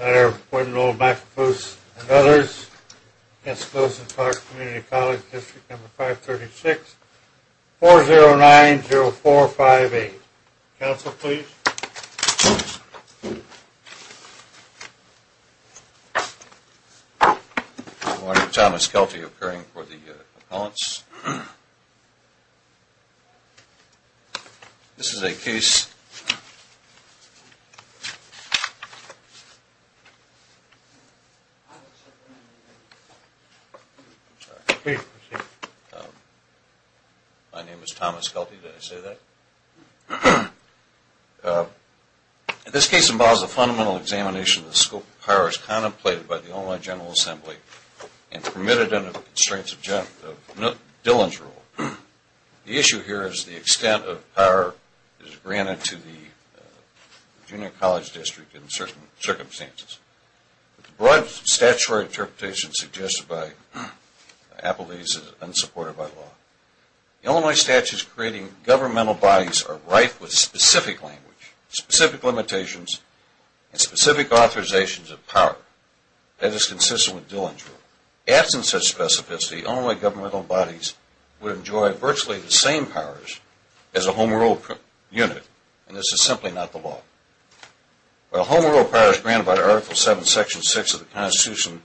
Letter of Appointment of Old M.A.F.O.O.S. and Others Against Lewis & Clark Community College District No. 536-409-0458. Counsel, please. Good morning. Thomas Kelty, occurring for the appellants. This is a case, my name is Thomas Kelty, did I say that? This case involves a fundamental examination of the scope of powers contemplated by the Illinois General Assembly and permitted under the constraints of Dillon's rule. The issue here is the extent of power granted to the junior college district in certain circumstances. The broad statutory interpretation suggested by Appellees is unsupported by law. Illinois statutes creating governmental bodies are rife with specific language, specific limitations, and specific authorizations of power, as is consistent with Dillon's rule. Absent such specificity, Illinois governmental bodies would enjoy virtually the same powers as a home rule unit, and this is simply not the law. While home rule powers granted by Article 7, Section 6 of the Constitution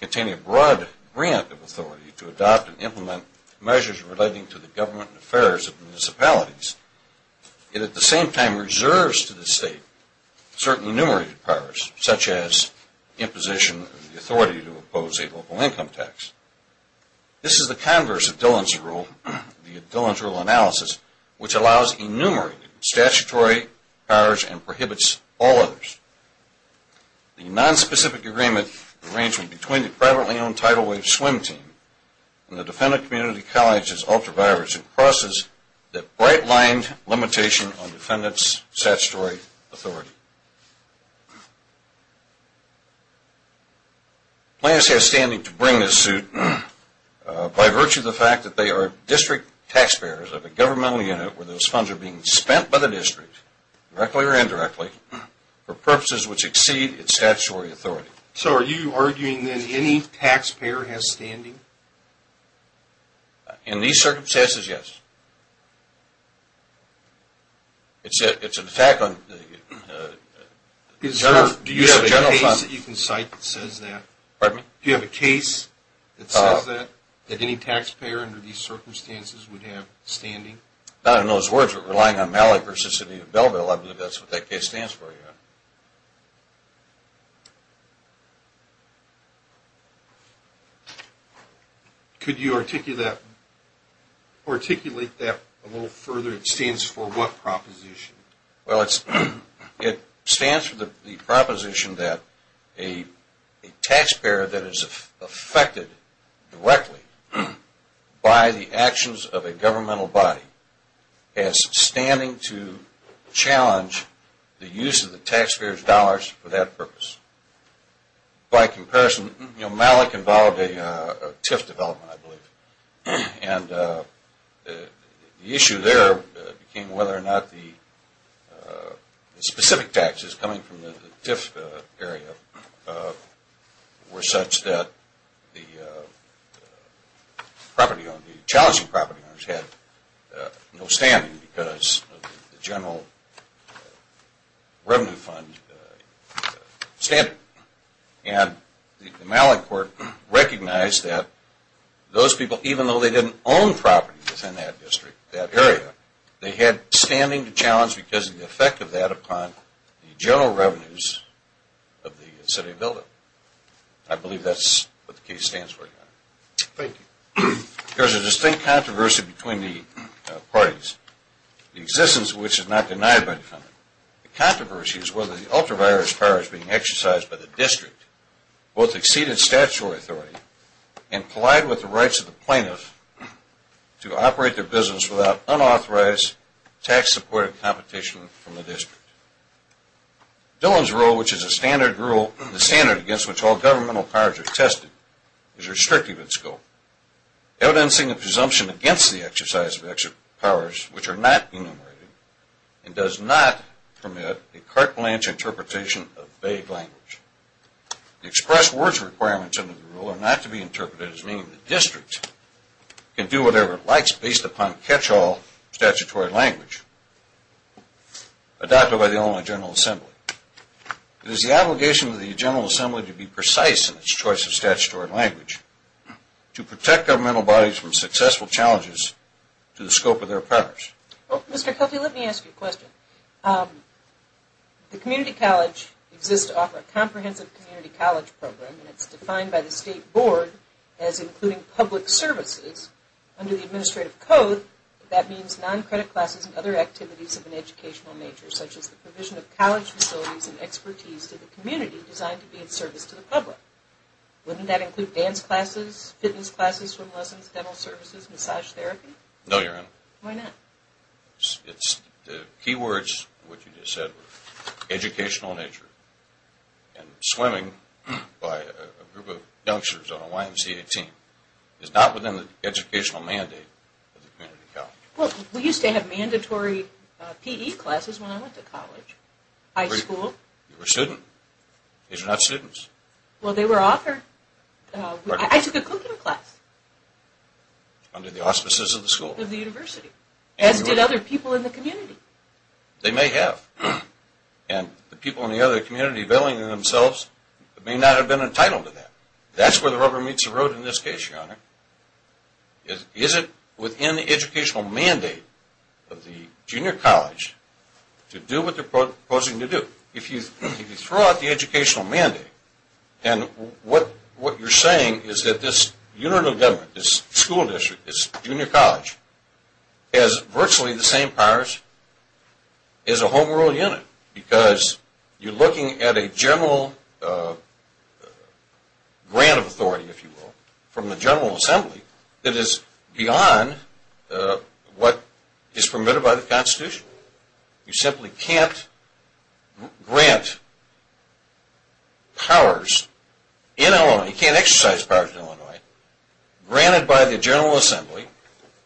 contain a broad grant of authority to adopt and implement measures relating to the government and affairs of municipalities, it at the same time reserves to the state certain enumerated powers, such as imposition of the authority to impose a local income tax. This is the converse of Dillon's rule, the Dillon's rule analysis, which allows enumerated statutory powers and prohibits all others. The non-specific agreement arrangement between the privately owned Tidal Wave Swim Team and the Defendant Community College is ultra-violent in the process that bright-lined limitations on defendants' statutory authority. Plans have standing to bring this suit by virtue of the fact that they are district taxpayers of a governmental unit where those funds are being spent by the district, directly or indirectly, for purposes which exceed its statutory authority. So are you arguing that any taxpayer has standing? In these circumstances, yes. It's an attack on the general fund. Do you have a case that you can cite that says that? Pardon me? Do you have a case that says that, that any taxpayer under these circumstances would have standing? Not in those words, but relying on Mallet v. City of Belleville, I believe that's what that case stands for, yeah. Could you articulate that a little further? It stands for what proposition? for that purpose. By comparison, Mallet involved a TIF development, I believe, and the issue there became whether or not the specific taxes coming from the TIF area were such that the property owners, the challenging property owners, had no standing because of the general revenue fund standard. And the Mallet court recognized that those people, even though they didn't own property within that district, that area, they had standing to challenge because of the effect of that upon the general revenues of the City of Belleville. I believe that's what the case stands for. Thank you. There's a distinct controversy between the parties, the existence of which is not denied by the defendant. The controversy is whether the ultra-virus powers being exercised by the district both exceed its statutory authority and collide with the rights of the plaintiff to operate their business without unauthorized tax-supported competition from the district. Dillon's rule, which is the standard against which all governmental powers are tested, is restrictive in scope, evidencing a presumption against the exercise of powers which are not enumerated and does not permit a carte blanche interpretation of vague language. The express words requirements under the rule are not to be interpreted as meaning the district can do whatever it likes based upon catch-all statutory language. Adopted by the only General Assembly. It is the obligation of the General Assembly to be precise in its choice of statutory language to protect governmental bodies from successful challenges to the scope of their powers. Mr. Kelty, let me ask you a question. The community college exists to offer a comprehensive community college program, and it's defined by the State Board as including public services. Under the Administrative Code, that means non-credit classes and other activities of an educational nature, such as the provision of college facilities and expertise to the community designed to be in service to the public. Wouldn't that include dance classes, fitness classes from lessons, dental services, massage therapy? No, Your Honor. Why not? The key words which you just said were educational nature and swimming by a group of youngsters on a YMCA team is not within the educational mandate of the community college. Well, we used to have mandatory PE classes when I went to college, high school. You were a student. These are not students. Well, they were offered. I took a cooking class. Under the auspices of the school. Of the university. As did other people in the community. They may have. And the people in the other community veiling themselves may not have been entitled to that. That's where the rubber meets the road in this case, Your Honor. Is it within the educational mandate of the junior college to do what they're proposing to do? If you throw out the educational mandate, and what you're saying is that this unit of government, this school district, this junior college, has virtually the same powers as a home rule unit because you're looking at a general grant of authority, if you will, from the General Assembly that is beyond what is permitted by the Constitution. You simply can't grant powers in Illinois. You can't exercise powers in Illinois granted by the General Assembly,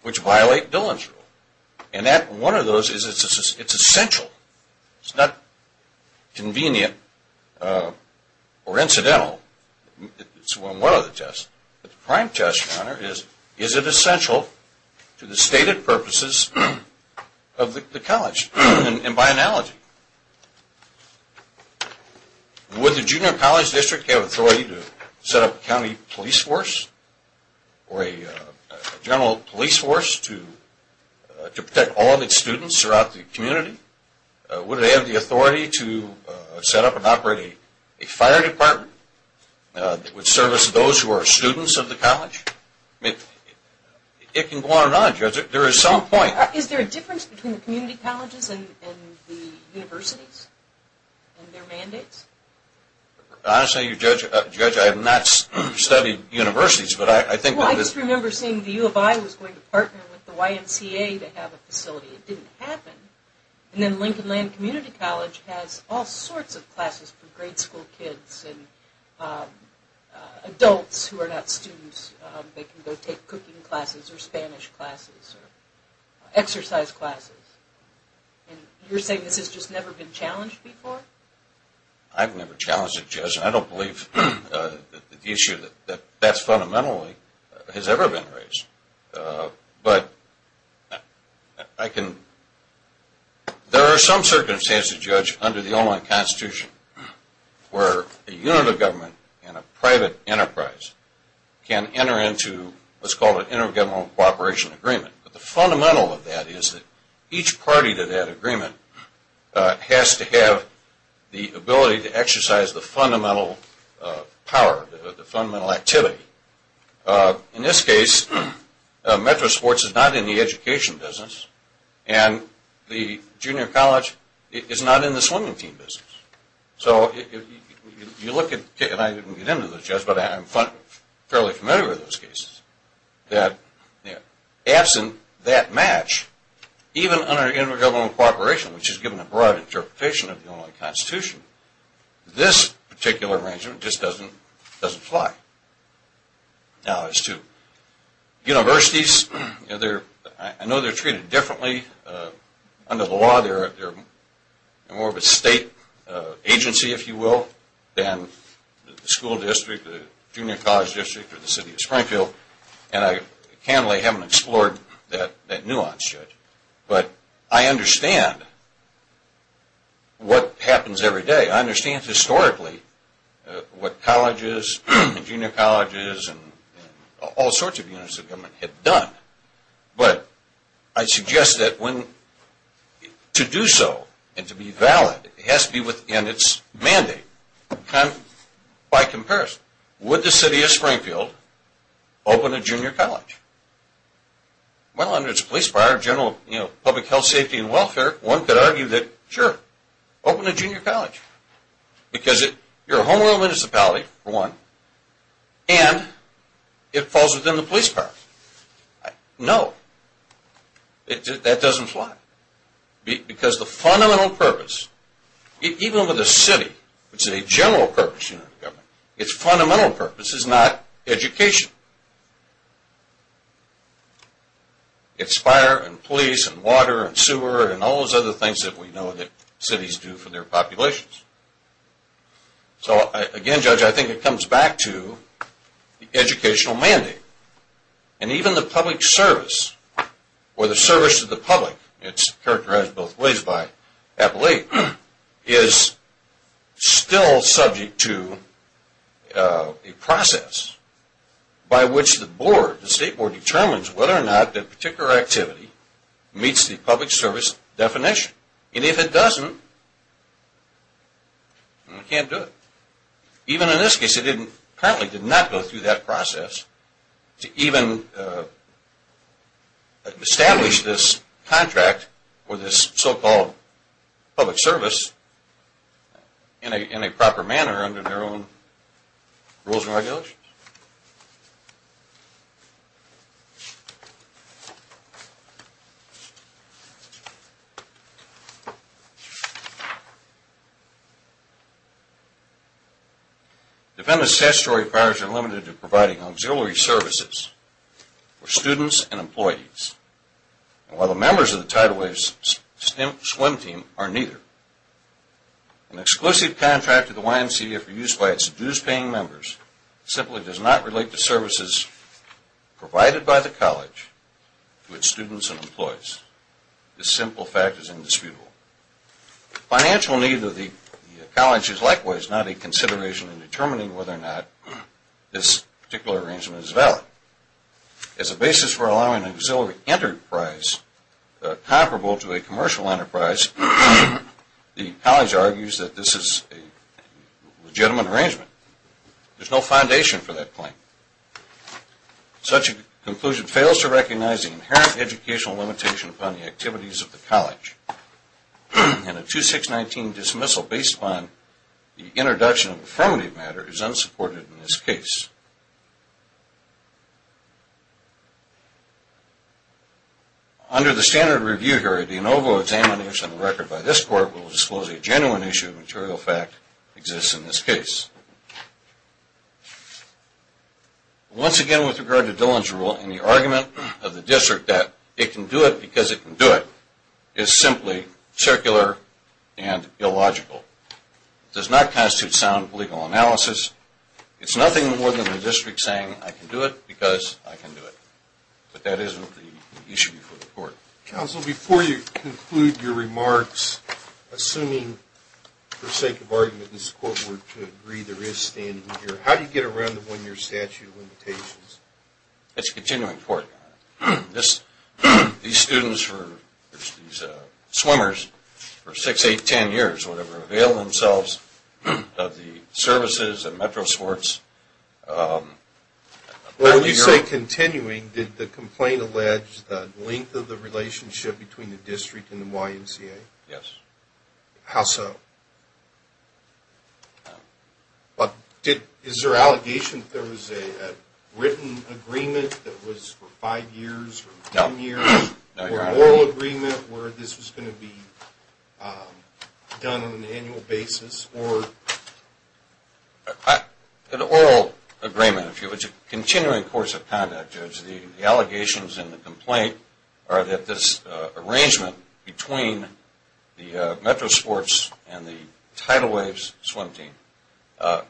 which violate Dillon's rule. And one of those is it's essential. It's not convenient or incidental. It's one of the tests. But the prime test, Your Honor, is is it essential to the stated purposes of the college? And by analogy. Would the junior college district have authority to set up a county police force or a general police force to protect all of its students throughout the community? Would they have the authority to set up and operate a fire department that would service those who are students of the college? It can go on and on, Judge. There is some point. Is there a difference between the community colleges and the universities and their mandates? Honestly, Judge, I have not studied universities. Well, I just remember seeing the U of I was going to partner with the YMCA to have a facility. It didn't happen. And then Lincoln Land Community College has all sorts of classes for grade school kids and adults who are not students. They can go take cooking classes or Spanish classes or exercise classes. And you're saying this has just never been challenged before? I've never challenged it, Judge. And I don't believe the issue that that's fundamentally has ever been raised. But there are some circumstances, Judge, under the Oman Constitution where a unit of government and a private enterprise can enter into what's called an intergovernmental cooperation agreement. But the fundamental of that is that each party to that agreement has to have the ability to exercise the fundamental power, the fundamental activity. In this case, metro sports is not in the education business, and the junior college is not in the swimming team business. So you look at – and I didn't get into this, Judge, but I'm fairly familiar with those cases – that absent that match, even under intergovernmental cooperation, which is given a broad interpretation of the Oman Constitution, this particular arrangement just doesn't fly. Now, as to universities, I know they're treated differently under the law. They're more of a state agency, if you will, than the school district, the junior college district, or the city of Springfield. And I can't really have them explored that nuance, Judge. But I understand what happens every day. I understand historically what colleges and junior colleges and all sorts of units of government have done. But I suggest that to do so and to be valid, it has to be within its mandate. By comparison, would the city of Springfield open a junior college? Well, under its police power, general public health, safety, and welfare, one could argue that, sure, open a junior college. Because you're a homegrown municipality, for one, and it falls within the police power. No, that doesn't fly. Because the fundamental purpose, even with a city, which is a general purpose, its fundamental purpose is not education. It's fire and police and water and sewer and all those other things that we know that cities do for their populations. So, again, Judge, I think it comes back to the educational mandate. And even the public service, or the service to the public, it's characterized both ways by Appalachian, is still subject to a process by which the board, the state board, determines whether or not that particular activity meets the public service definition. And if it doesn't, you can't do it. Even in this case, it currently did not go through that process to even establish this contract or this so-called public service in a proper manner under their own rules and regulations. Defendant's statutory powers are limited to providing auxiliary services for students and employees. While the members of the Tidal Wave swim team are neither. An exclusive contract to the YMCA for use by its dues-paying members simply does not relate to services provided by the college to its students and employees. This simple fact is indisputable. The financial need of the college is likewise not a consideration in determining whether or not this particular arrangement is valid. As a basis for allowing an auxiliary enterprise comparable to a commercial enterprise, the college argues that this is a legitimate arrangement. There's no foundation for that claim. Such a conclusion fails to recognize the inherent educational limitation upon the activities of the college. And a 2619 dismissal based upon the introduction of affirmative matter is unsupported in this case. Under the standard review here, a de novo examination of the record by this court will disclose a genuine issue of material fact exists in this case. Once again, with regard to Dillon's rule and the argument of the district that it can do it because it can do it is simply circular and illogical. It does not constitute sound legal analysis. It's nothing more than the district saying, I can do it because I can do it. But that isn't the issue before the court. Counsel, before you conclude your remarks, assuming for sake of argument this court were to agree there is standing here, how do you get around the one-year statute of limitations? It's a continuing court. These students were swimmers for 6, 8, 10 years. They availed themselves of the services and metro sports. When you say continuing, did the complaint allege the length of the relationship between the district and the YMCA? Yes. How so? Is there allegation that there was a written agreement that was for 5 years or 10 years? No. Or an oral agreement where this was going to be done on an annual basis? An oral agreement, if you would. It's a continuing course of conduct, Judge. The allegations in the complaint are that this arrangement between the metro sports and the tidal waves swim team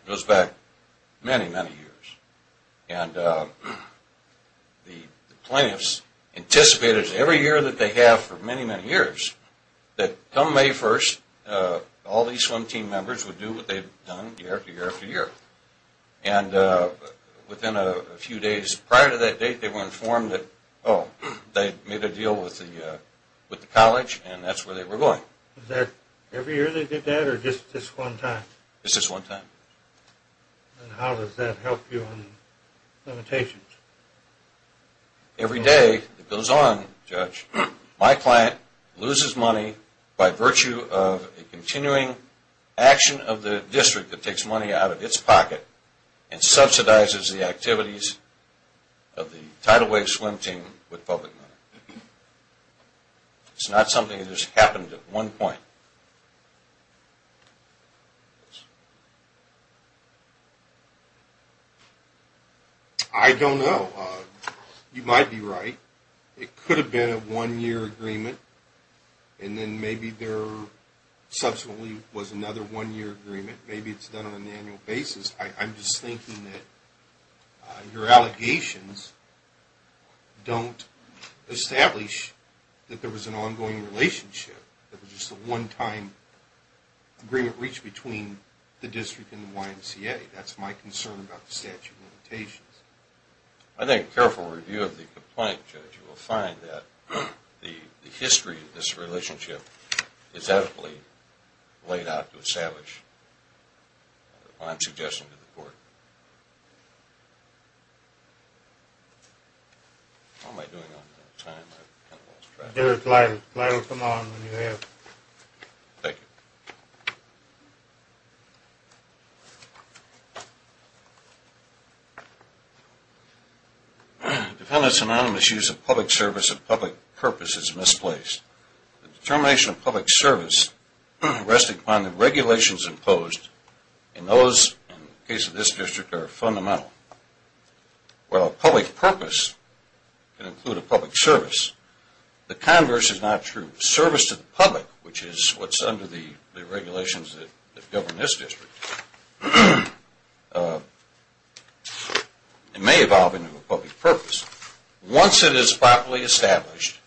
goes back many, many years. And the plaintiffs anticipated every year that they have for many, many years that come May 1st, all these swim team members would do what they've done year after year after year. And within a few days prior to that date, they were informed that, oh, they made a deal with the college and that's where they were going. Is that every year they did that or just this one time? Just this one time. And how does that help you on the limitations? Every day it goes on, Judge. My client loses money by virtue of a continuing action of the district that takes money out of its pocket and subsidizes the activities of the tidal wave swim team with public money. It's not something that just happened at one point. I don't know. You might be right. It could have been a one-year agreement and then maybe there subsequently was another one-year agreement. Maybe it's done on an annual basis. I'm just thinking that your allegations don't establish that there was an ongoing relationship. It was just a one-time agreement reached between the district and the YMCA. I think a careful review of the complaint, Judge, you will find that the history of this relationship is adequately laid out to establish what I'm suggesting to the court. How am I doing on time? I kind of lost track. There's a flyer. The flyer will come on when you have it. Thank you. Defendant's anonymous use of public service and public purpose is misplaced. The determination of public service resting upon the regulations imposed in those, in the case of this district, are fundamental. While a public purpose can include a public service, the converse is not true. Service to the public, which is what's under the regulations that govern this district, may evolve into a public purpose once it is properly established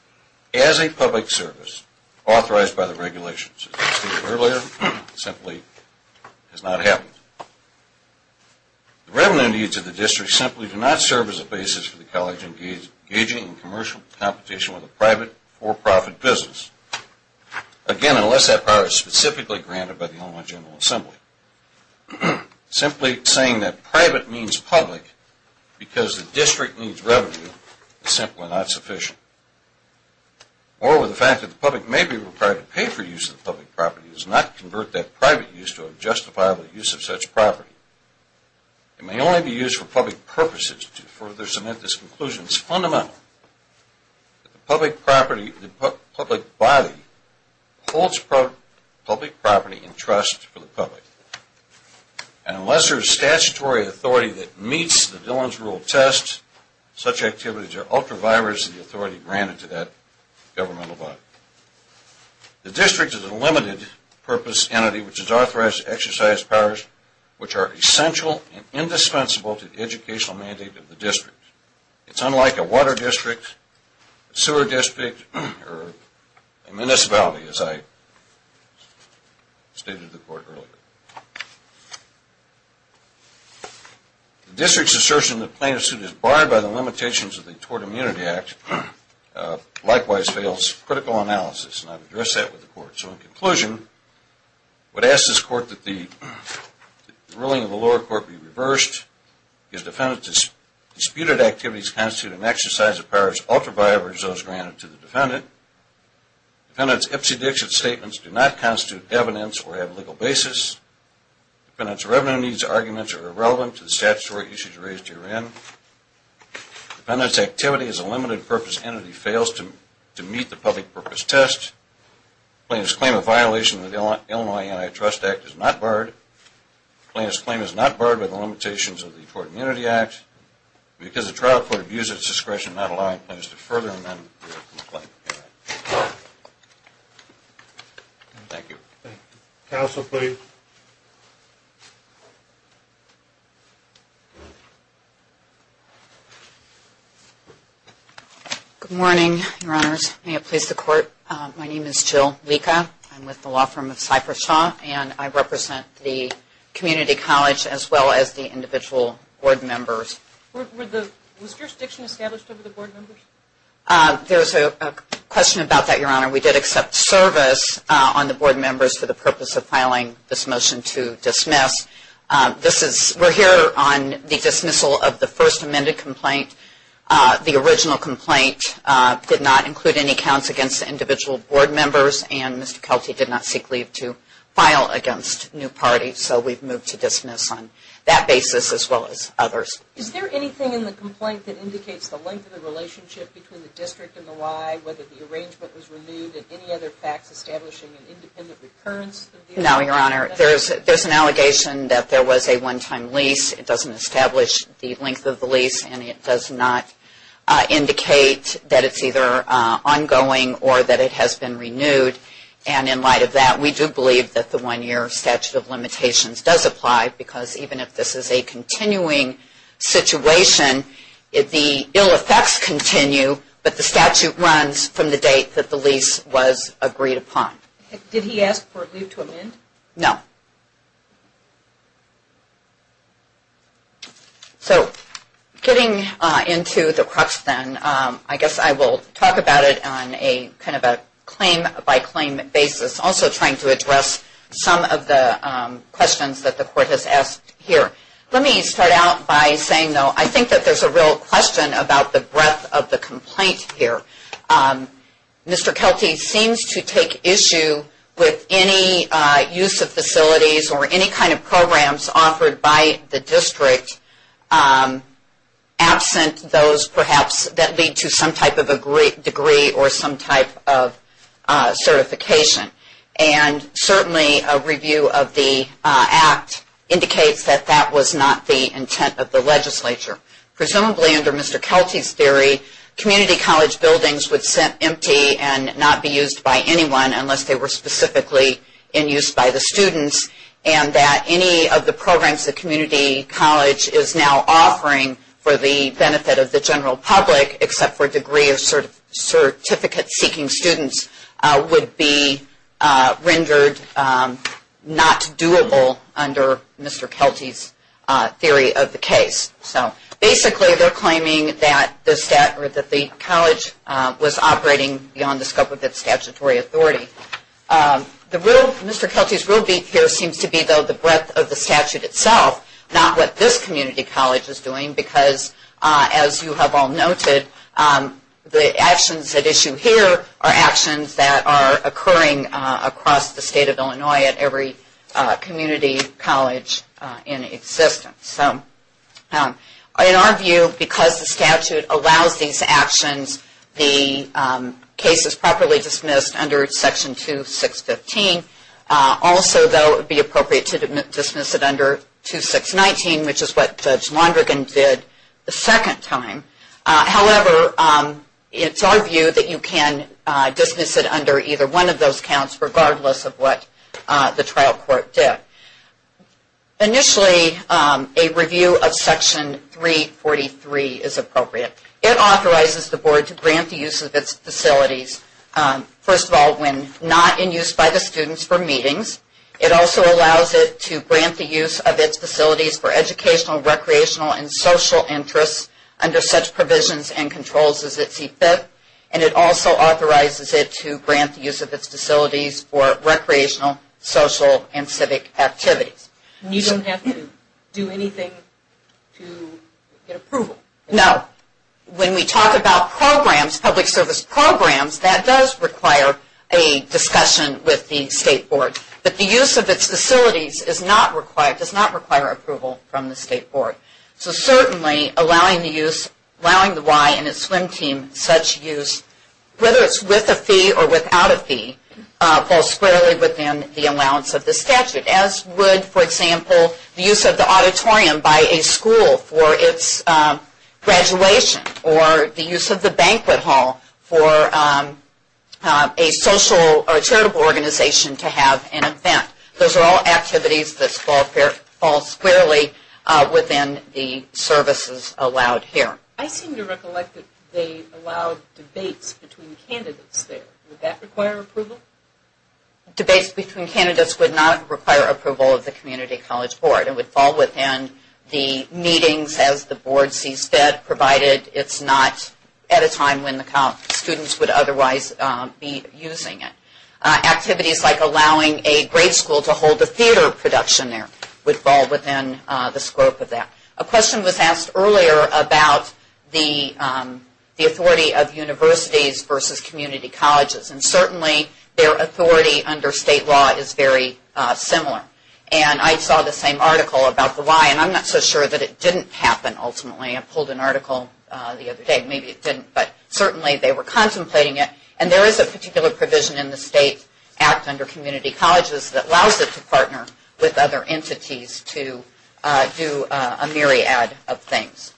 as a public service authorized by the regulations. As I stated earlier, it simply has not happened. The revenue needs of the district simply do not serve as a basis for the college engaging in commercial competition with a private, for-profit business, again, unless that power is specifically granted by the Illinois General Assembly. Simply saying that private means public because the district needs revenue is simply not sufficient. Moreover, the fact that the public may be required to pay for use of the public property does not convert that private use to a justifiable use of such property. It may only be used for public purposes. To further submit this conclusion, it's fundamental that the public property, the public body, holds public property in trust for the public. Unless there is statutory authority that meets the Dillon's Rule test, such activities are ultra-virus of the authority granted to that governmental body. The district is a limited purpose entity which is authorized to exercise powers which are essential and indispensable to the educational mandate of the district. It's unlike a water district, a sewer district, or a municipality, as I stated to the court earlier. The district's assertion that plaintiff's suit is barred by the limitations of the Tort Immunity Act likewise fails critical analysis, and I've addressed that with the court. So in conclusion, I would ask this court that the ruling of the lower court be reversed, if defendant's disputed activities constitute an exercise of powers ultra-virus those granted to the defendant, defendant's Ipsy Dixit statements do not constitute evidence or have legal basis, defendant's revenue needs arguments are irrelevant to the statutory issues raised herein, defendant's activity as a limited purpose entity fails to meet the public purpose test, plaintiff's claim of violation of the Illinois Antitrust Act is not barred, plaintiff's claim is not barred by the limitations of the Tort Immunity Act, because the trial court views its discretion not allowing plaintiffs to further amend the claim. Thank you. Counsel, please. Good morning, Your Honors. May it please the court. My name is Jill Licca. I'm with the law firm of Cypress Shaw, and I represent the community college as well as the individual board members. Was jurisdiction established over the board members? There's a question about that, Your Honor. We did accept service on the board members for the purpose of filing this motion to dismiss. We're here on the dismissal of the first amended complaint. The original complaint did not include any counts against individual board members, and Mr. Kelty did not seek leave to file against new parties, so we've moved to dismiss on that basis as well as others. Is there anything in the complaint that indicates the length of the relationship between the district and the Y, whether the arrangement was renewed, and any other facts establishing an independent recurrence? No, Your Honor. There's an allegation that there was a one-time lease. It doesn't establish the length of the lease, and it does not indicate that it's either ongoing or that it has been renewed. And in light of that, we do believe that the one-year statute of limitations does apply, because even if this is a continuing situation, the ill effects continue, but the statute runs from the date that the lease was agreed upon. Did he ask for leave to amend? No. So getting into the crux then, I guess I will talk about it on a kind of a claim-by-claim basis, also trying to address some of the questions that the Court has asked here. Let me start out by saying, though, I think that there's a real question about the breadth of the complaint here. Mr. Kelty seems to take issue with any use of facilities or any kind of programs offered by the district absent those, perhaps, that lead to some type of a degree or some type of certification. And certainly a review of the Act indicates that that was not the intent of the legislature. Presumably, under Mr. Kelty's theory, community college buildings would sit empty and not be used by anyone unless they were specifically in use by the students, and that any of the programs the community college is now offering for the benefit of the general public, except for degree or certificate-seeking students, would be rendered not doable under Mr. Kelty's theory of the case. So basically, they're claiming that the college was operating beyond the scope of its statutory authority. Mr. Kelty's real beak here seems to be, though, the breadth of the statute itself, not what this community college is doing, because, as you have all noted, the actions at issue here are actions that are occurring across the state of Illinois at every community college in existence. In our view, because the statute allows these actions, the case is properly dismissed under Section 2615. Also, though, it would be appropriate to dismiss it under 2619, which is what Judge Londrigan did the second time. However, it's our view that you can dismiss it under either one of those counts, regardless of what the trial court did. Initially, a review of Section 343 is appropriate. It authorizes the Board to grant the use of its facilities, first of all, when not in use by the students for meetings. It also allows it to grant the use of its facilities for educational, recreational, and social interests under such provisions and controls as it see fit. And it also authorizes it to grant the use of its facilities for recreational, social, and civic activities. And you don't have to do anything to get approval? No. When we talk about programs, public service programs, that does require a discussion with the State Board. But the use of its facilities does not require approval from the State Board. So certainly, allowing the Y and its swim team such use, whether it's with a fee or without a fee, falls squarely within the allowance of the statute. As would, for example, the use of the auditorium by a school for its graduation, or the use of the banquet hall for a social or charitable organization to have an event. Those are all activities that fall squarely within the services allowed here. I seem to recollect that they allow debates between candidates there. Would that require approval? Debates between candidates would not require approval of the Community College Board. It would fall within the meetings, as the Board sees fit, provided it's not at a time when the students would otherwise be using it. Activities like allowing a grade school to hold a theater production there would fall within the scope of that. A question was asked earlier about the authority of universities versus community colleges. And certainly, their authority under State law is very similar. And I saw the same article about the Y, and I'm not so sure that it didn't happen, ultimately. I pulled an article the other day. Maybe it didn't, but certainly they were contemplating it. And there is a particular provision in the State Act under community colleges that allows it to partner with other entities to do a myriad of things.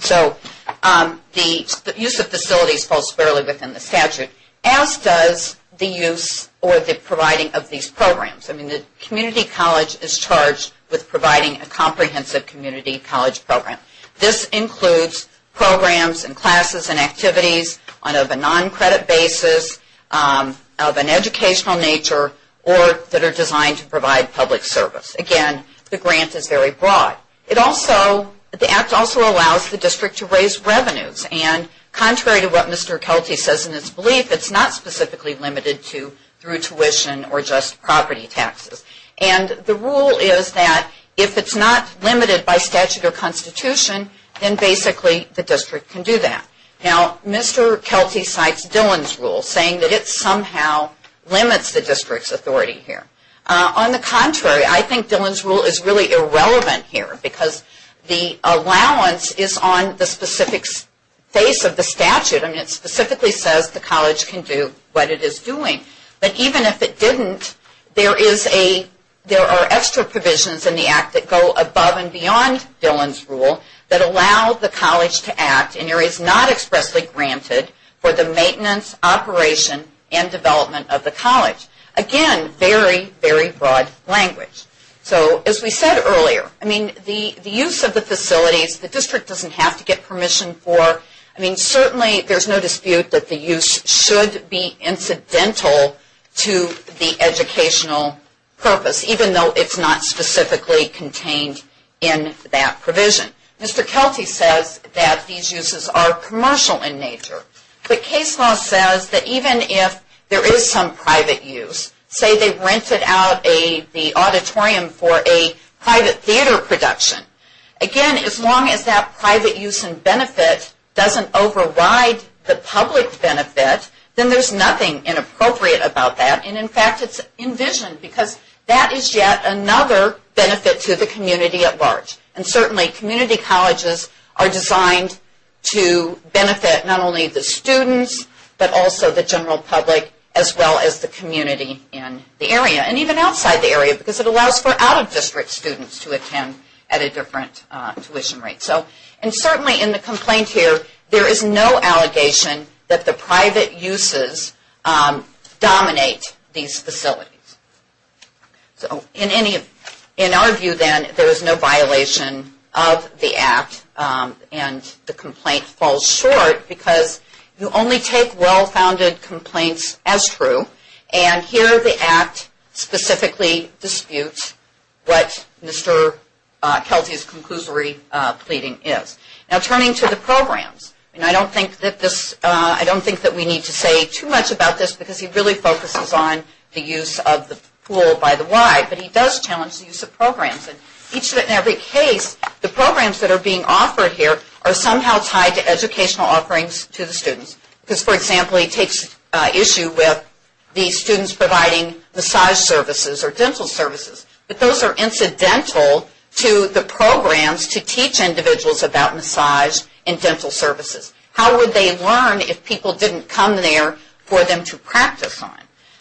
So the use of facilities falls squarely within the statute, as does the use or the providing of these programs. The community college is charged with providing a comprehensive community college program. This includes programs and classes and activities of a non-credit basis, of an educational nature, or that are designed to provide public service. Again, the grant is very broad. The Act also allows the district to raise revenues. And contrary to what Mr. Kelty says in his belief, it's not specifically limited to through tuition or just property taxes. And the rule is that if it's not limited by statute or constitution, then basically the district can do that. Now, Mr. Kelty cites Dillon's rule, saying that it somehow limits the district's authority here. On the contrary, I think Dillon's rule is really irrelevant here, because the allowance is on the specific face of the statute. I mean, it specifically says the college can do what it is doing. But even if it didn't, there are extra provisions in the Act that go above and beyond Dillon's rule that allow the college to act in areas not expressly granted for the maintenance, operation, and development of the college. Again, very, very broad language. So as we said earlier, I mean, the use of the facilities, the district doesn't have to get permission for. I mean, certainly there's no dispute that the use should be incidental to the educational purpose, even though it's not specifically contained in that provision. Mr. Kelty says that these uses are commercial in nature. But case law says that even if there is some private use, say they rented out the auditorium for a private theater production, again, as long as that private use and benefit doesn't override the public benefit, then there's nothing inappropriate about that. And in fact, it's envisioned, because that is yet another benefit to the community at large. And certainly community colleges are designed to benefit not only the students, but also the general public, as well as the community in the area, and even outside the area, because it allows for out-of-district students to attend at a different tuition rate. And certainly in the complaint here, there is no allegation that the private uses dominate these facilities. So in our view, then, there is no violation of the Act, and the complaint falls short, because you only take well-founded complaints as true, and here the Act specifically disputes what Mr. Kelty's conclusory pleading is. Now turning to the programs, and I don't think that we need to say too much about this, because he really focuses on the use of the pool by the Y, but he does challenge the use of programs. And each and every case, the programs that are being offered here are somehow tied to educational offerings to the students. Because, for example, he takes issue with the students providing massage services or dental services, but those are incidental to the programs to teach individuals about massage and dental services. How would they learn if people didn't come there for them to practice on?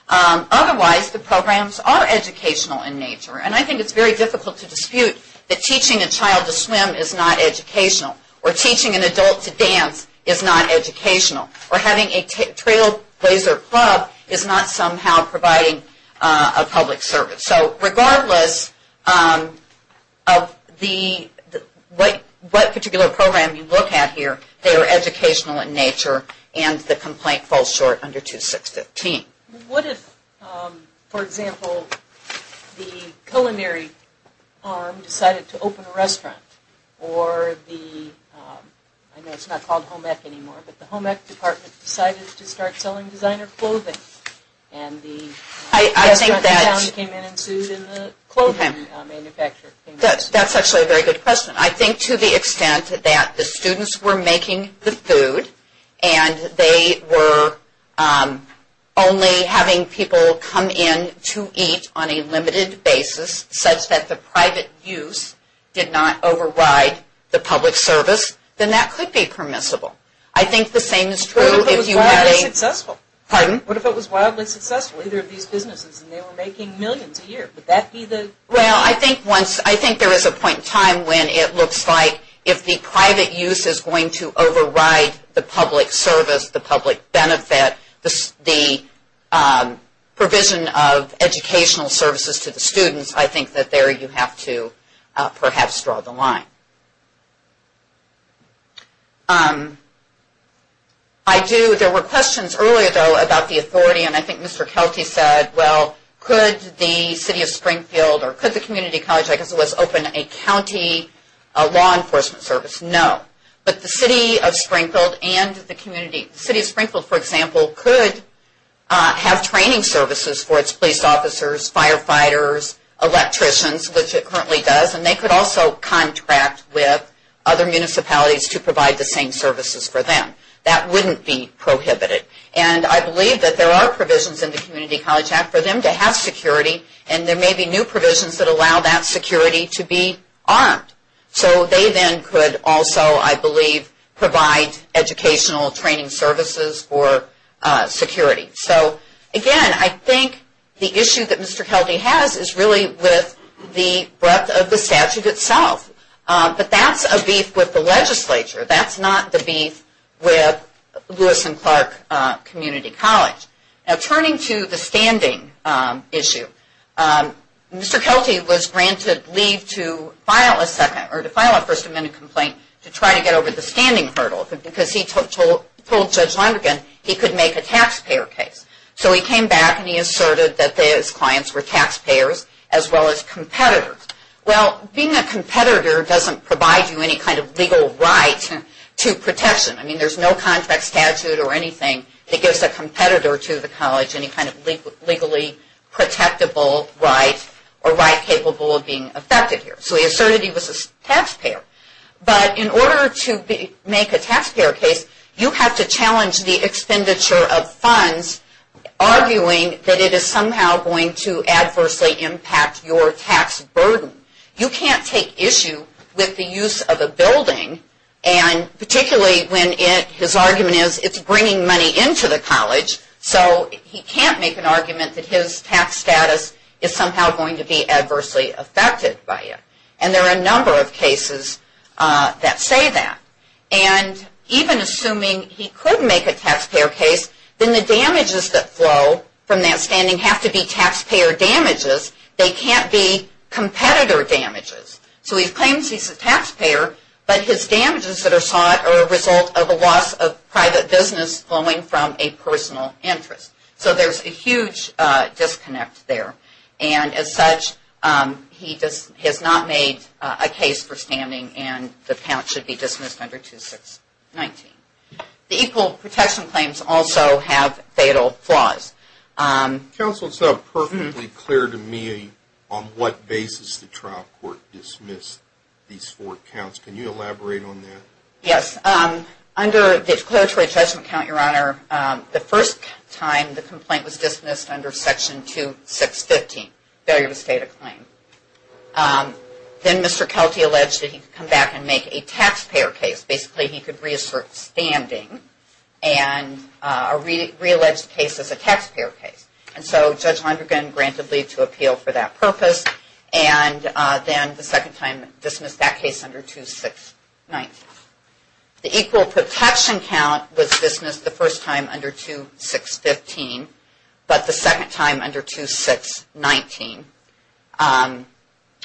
Otherwise, the programs are educational in nature, and I think it's very difficult to dispute that teaching a child to swim is not educational, or teaching an adult to dance is not educational, or having a trailblazer club is not somehow providing a public service. So regardless of what particular program you look at here, they are educational in nature, and the complaint falls short under 2615. What if, for example, the culinary arm decided to open a restaurant, or the, I know it's not called Home Ec anymore, but the Home Ec department decided to start selling designer clothing, and the restaurant in town came in and sued the clothing manufacturer? That's actually a very good question. I think to the extent that the students were making the food, and they were only having people come in to eat on a limited basis, such that the private use did not override the public service, then that could be permissible. I think the same is true if you had a... What if it was wildly successful? Pardon? What if it was wildly successful, either of these businesses, and they were making millions a year? Would that be the... Well, I think there is a point in time when it looks like if the private use is going to override the public service, the public benefit, the provision of educational services to the students, I think that there you have to perhaps draw the line. There were questions earlier, though, about the authority, and I think Mr. Kelty said, well, could the City of Springfield, or could the community college, I guess it was, open a county law enforcement service? No, but the City of Springfield and the community... The City of Springfield, for example, could have training services for its police officers, firefighters, electricians, which it currently does, and they could also contract with other municipalities to provide the same services for them. That wouldn't be prohibited, and I believe that there are provisions in the Community College Act for them to have security, and there may be new provisions that allow that security to be armed. So they then could also, I believe, provide educational training services for security. So, again, I think the issue that Mr. Kelty has is really with the breadth of the statute itself, but that's a beef with the legislature. That's not the beef with Lewis and Clark Community College. Now, turning to the standing issue, Mr. Kelty was granted leave to file a First Amendment complaint to try to get over the standing hurdle, because he told Judge Lonergan he could make a taxpayer case. So he came back and he asserted that his clients were taxpayers as well as competitors. Well, being a competitor doesn't provide you any kind of legal right to protection. I mean, there's no contract statute or anything that gives a competitor to the college any kind of legally protectable right or right capable of being affected here. So he asserted he was a taxpayer. But in order to make a taxpayer case, you have to challenge the expenditure of funds, arguing that it is somehow going to adversely impact your tax burden. You can't take issue with the use of a building, and particularly when his argument is it's bringing money into the college, so he can't make an argument that his tax status is somehow going to be adversely affected by it. And there are a number of cases that say that. And even assuming he could make a taxpayer case, then the damages that flow from that standing have to be taxpayer damages. They can't be competitor damages. So he claims he's a taxpayer, but his damages that are sought are a result of a loss of private business flowing from a personal interest. So there's a huge disconnect there. And as such, he has not made a case for standing, and the count should be dismissed under 2619. The equal protection claims also have fatal flaws. Counsel, it's not perfectly clear to me on what basis the trial court dismissed these four counts. Can you elaborate on that? Yes. Under the declaratory judgment count, Your Honor, the first time the complaint was dismissed under Section 2615, failure to state a claim. Then Mr. Kelty alleged that he could come back and make a taxpayer case. Basically, he could reassert standing and reallege the case as a taxpayer case. And so Judge Lundergan granted leave to appeal for that purpose, and then the second time dismissed that case under 2619. The equal protection count was dismissed the first time under 2615, but the second time under 2619.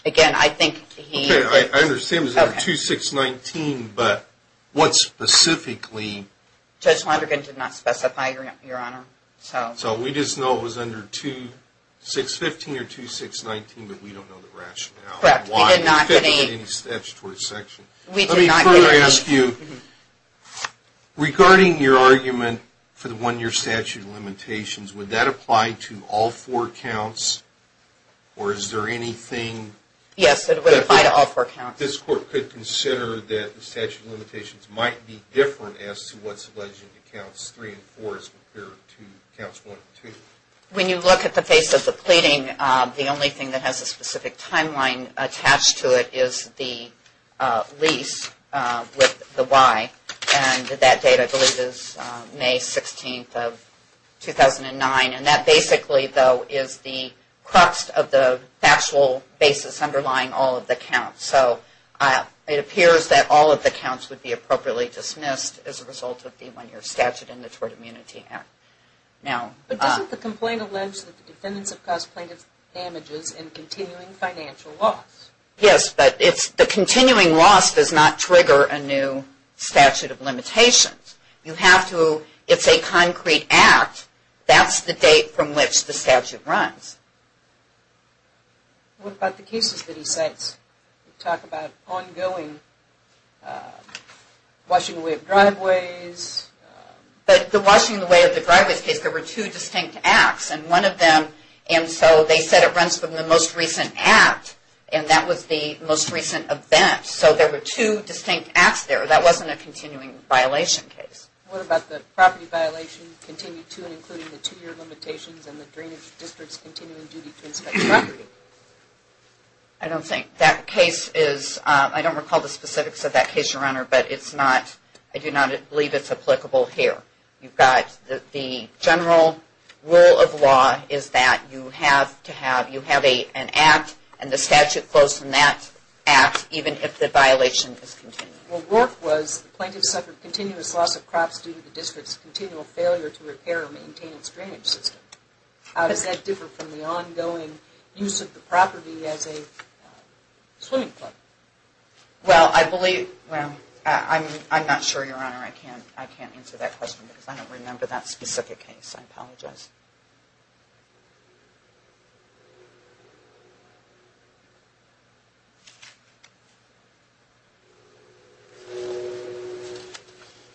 Again, I think he... Okay, I understand it was under 2619, but what specifically... Judge Lundergan did not specify, Your Honor. So we just know it was under 2615 or 2619, but we don't know the rationale. Correct. We did not get any... We didn't get any statutory section. We did not get any... Or is there anything... Yes, it would apply to all four counts. This Court could consider that the statute of limitations might be different as to what's alleged in the counts 3 and 4 as compared to counts 1 and 2. When you look at the face of the pleading, the only thing that has a specific timeline attached to it is the lease with the Y. And that date, I believe, is May 16th of 2009. And that basically, though, is the crux of the factual basis underlying all of the counts. So it appears that all of the counts would be appropriately dismissed as a result of the one-year statute in the Tort Immunity Act. Now... But doesn't the complaint allege that the defendants have caused plaintiff's damages in continuing financial loss? Yes, but the continuing loss does not trigger a new statute of limitations. You have to... It's a concrete act. That's the date from which the statute runs. What about the cases that he cites? Talk about ongoing... Washing away of driveways... But the washing away of the driveways case, there were two distinct acts. And one of them... And so they said it runs from the most recent act. And that was the most recent event. So there were two distinct acts there. That wasn't a continuing violation case. What about the property violation continued to and including the two-year limitations and the drainage district's continuing duty to inspect the property? I don't think... That case is... I don't recall the specifics of that case, Your Honor, but it's not... I do not believe it's applicable here. You've got the general rule of law is that you have to have... You have an act, and the statute flows from that act even if the violation is continued. Well, Rourke was... The plaintiff suffered continuous loss of crops due to the district's continual failure to repair or maintain its drainage system. How does that differ from the ongoing use of the property as a swimming club? Well, I believe... Well, I'm not sure, Your Honor. I can't answer that question because I don't remember that specific case. I apologize.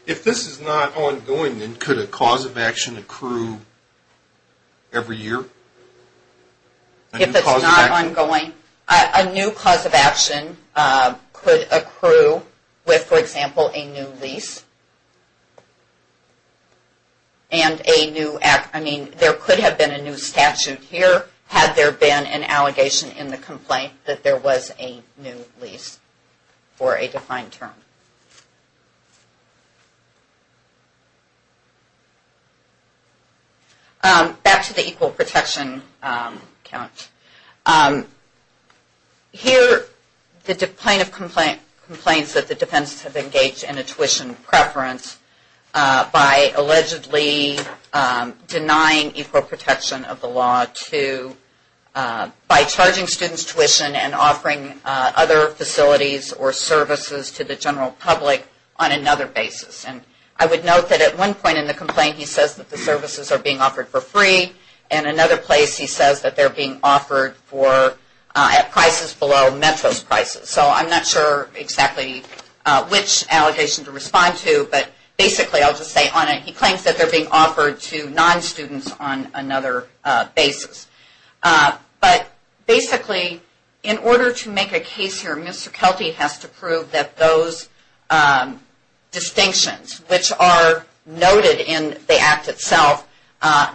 If this is not ongoing, then could a cause of action accrue every year? If it's not ongoing, a new cause of action could accrue with, for example, a new lease. And a new act... I mean, there could have been a new statute here had there been an allegation in the complaint that there was a new lease for a defined term. Back to the equal protection count. Here, the plaintiff complains that the defendants have engaged in a tuition preference by allegedly denying equal protection of the law to... By charging students tuition and offering other facilities or services to the general public on another basis. And I would note that at one point in the complaint, he says that the services are being offered for free. And another place, he says that they're being offered at prices below Metro's prices. So I'm not sure exactly which allegation to respond to. But basically, I'll just say on it, he claims that they're being offered to non-students on another basis. But basically, in order to make a case here, Mr. Kelty has to prove that those distinctions, which are noted in the act itself,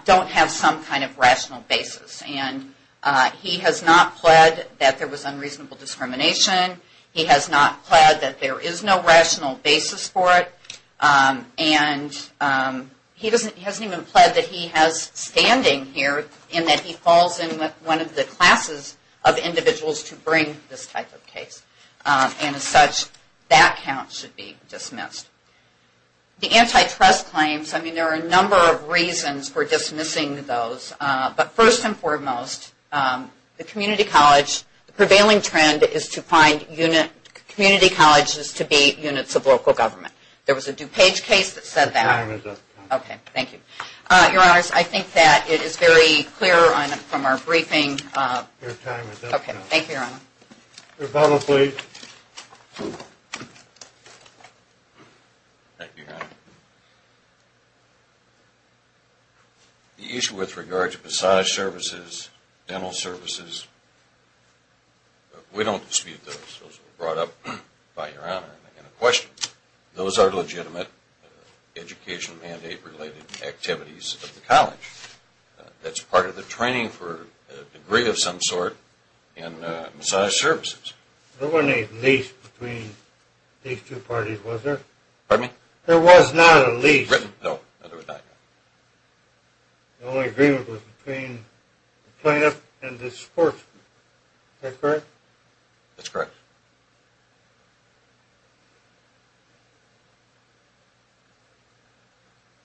don't have some kind of rational basis. And he has not pled that there was unreasonable discrimination. He has not pled that there is no rational basis for it. And he hasn't even pled that he has standing here in that he falls in with one of the classes of individuals to bring this type of case. And as such, that count should be dismissed. The antitrust claims, I mean, there are a number of reasons for dismissing those. But first and foremost, the community college, the prevailing trend is to find community colleges to be units of local government. There was a DuPage case that said that. Your time is up. Okay, thank you. Your Honors, I think that it is very clear from our briefing. Your time is up now. Okay, thank you, Your Honor. Rebuttal, please. Thank you, Your Honor. The issue with regard to massage services, dental services, we don't dispute those. Those were brought up by Your Honor in a question. Those are legitimate education mandate-related activities of the college. That's part of the training for a degree of some sort in massage services. There wasn't a lease between these two parties, was there? Pardon me? There was not a lease. No, there was not. The only agreement was between the plaintiff and the sportsman. Is that correct? That's correct.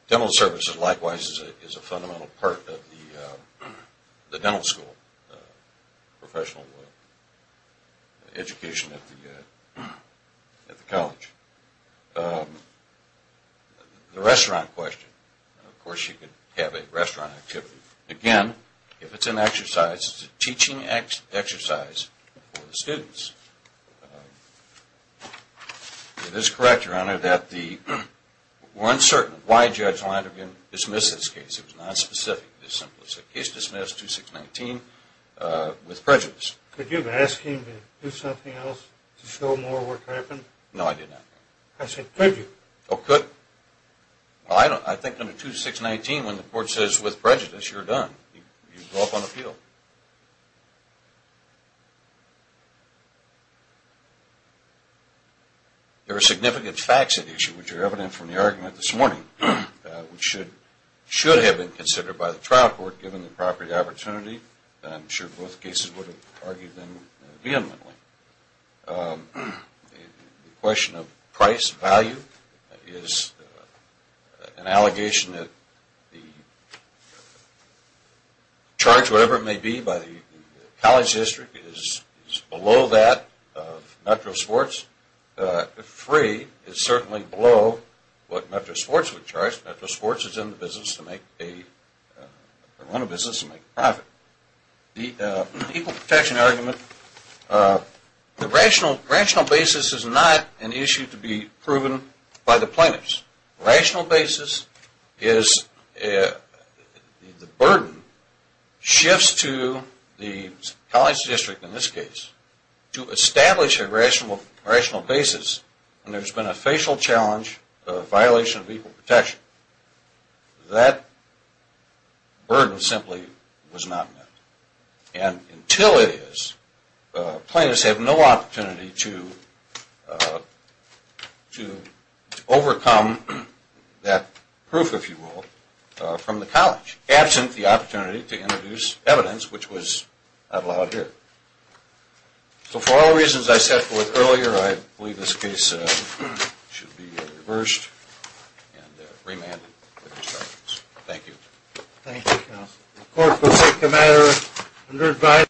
Dental services, likewise, is a fundamental part of the dental school professional education at the college. The restaurant question, of course, you could have a restaurant activity. Again, if it's an exercise, it's a teaching exercise for the students. It is correct, Your Honor, that we're uncertain why Judge Leiderman dismissed this case. It was not specific. It was a case dismissed, 2619, with prejudice. Could you have asked him to do something else to show more what happened? No, I did not. I said, could you? Oh, could. Well, I think under 2619, when the court says, with prejudice, you're done. You go up on appeal. There are significant facts at issue, which are evident from the argument this morning, which should have been considered by the trial court, given the property opportunity. I'm sure both cases would have argued them vehemently. The question of price value is an allegation that the charge, whatever it may be, by the college district is below that of Metro Sports. If free, it's certainly below what Metro Sports would charge. Metro Sports is in the business to make a profit. The equal protection argument, the rational basis is not an issue to be proven by the plaintiffs. Rational basis is the burden shifts to the college district, in this case, to establish a rational basis when there's been a facial challenge of violation of equal protection. That burden simply was not met. And until it is, plaintiffs have no opportunity to overcome that proof, if you will, from the college, absent the opportunity to introduce evidence, which was not allowed here. So for all the reasons I set forth earlier, I believe this case should be reversed and remanded. Thank you. Thank you, counsel. The court will take the matter under advice.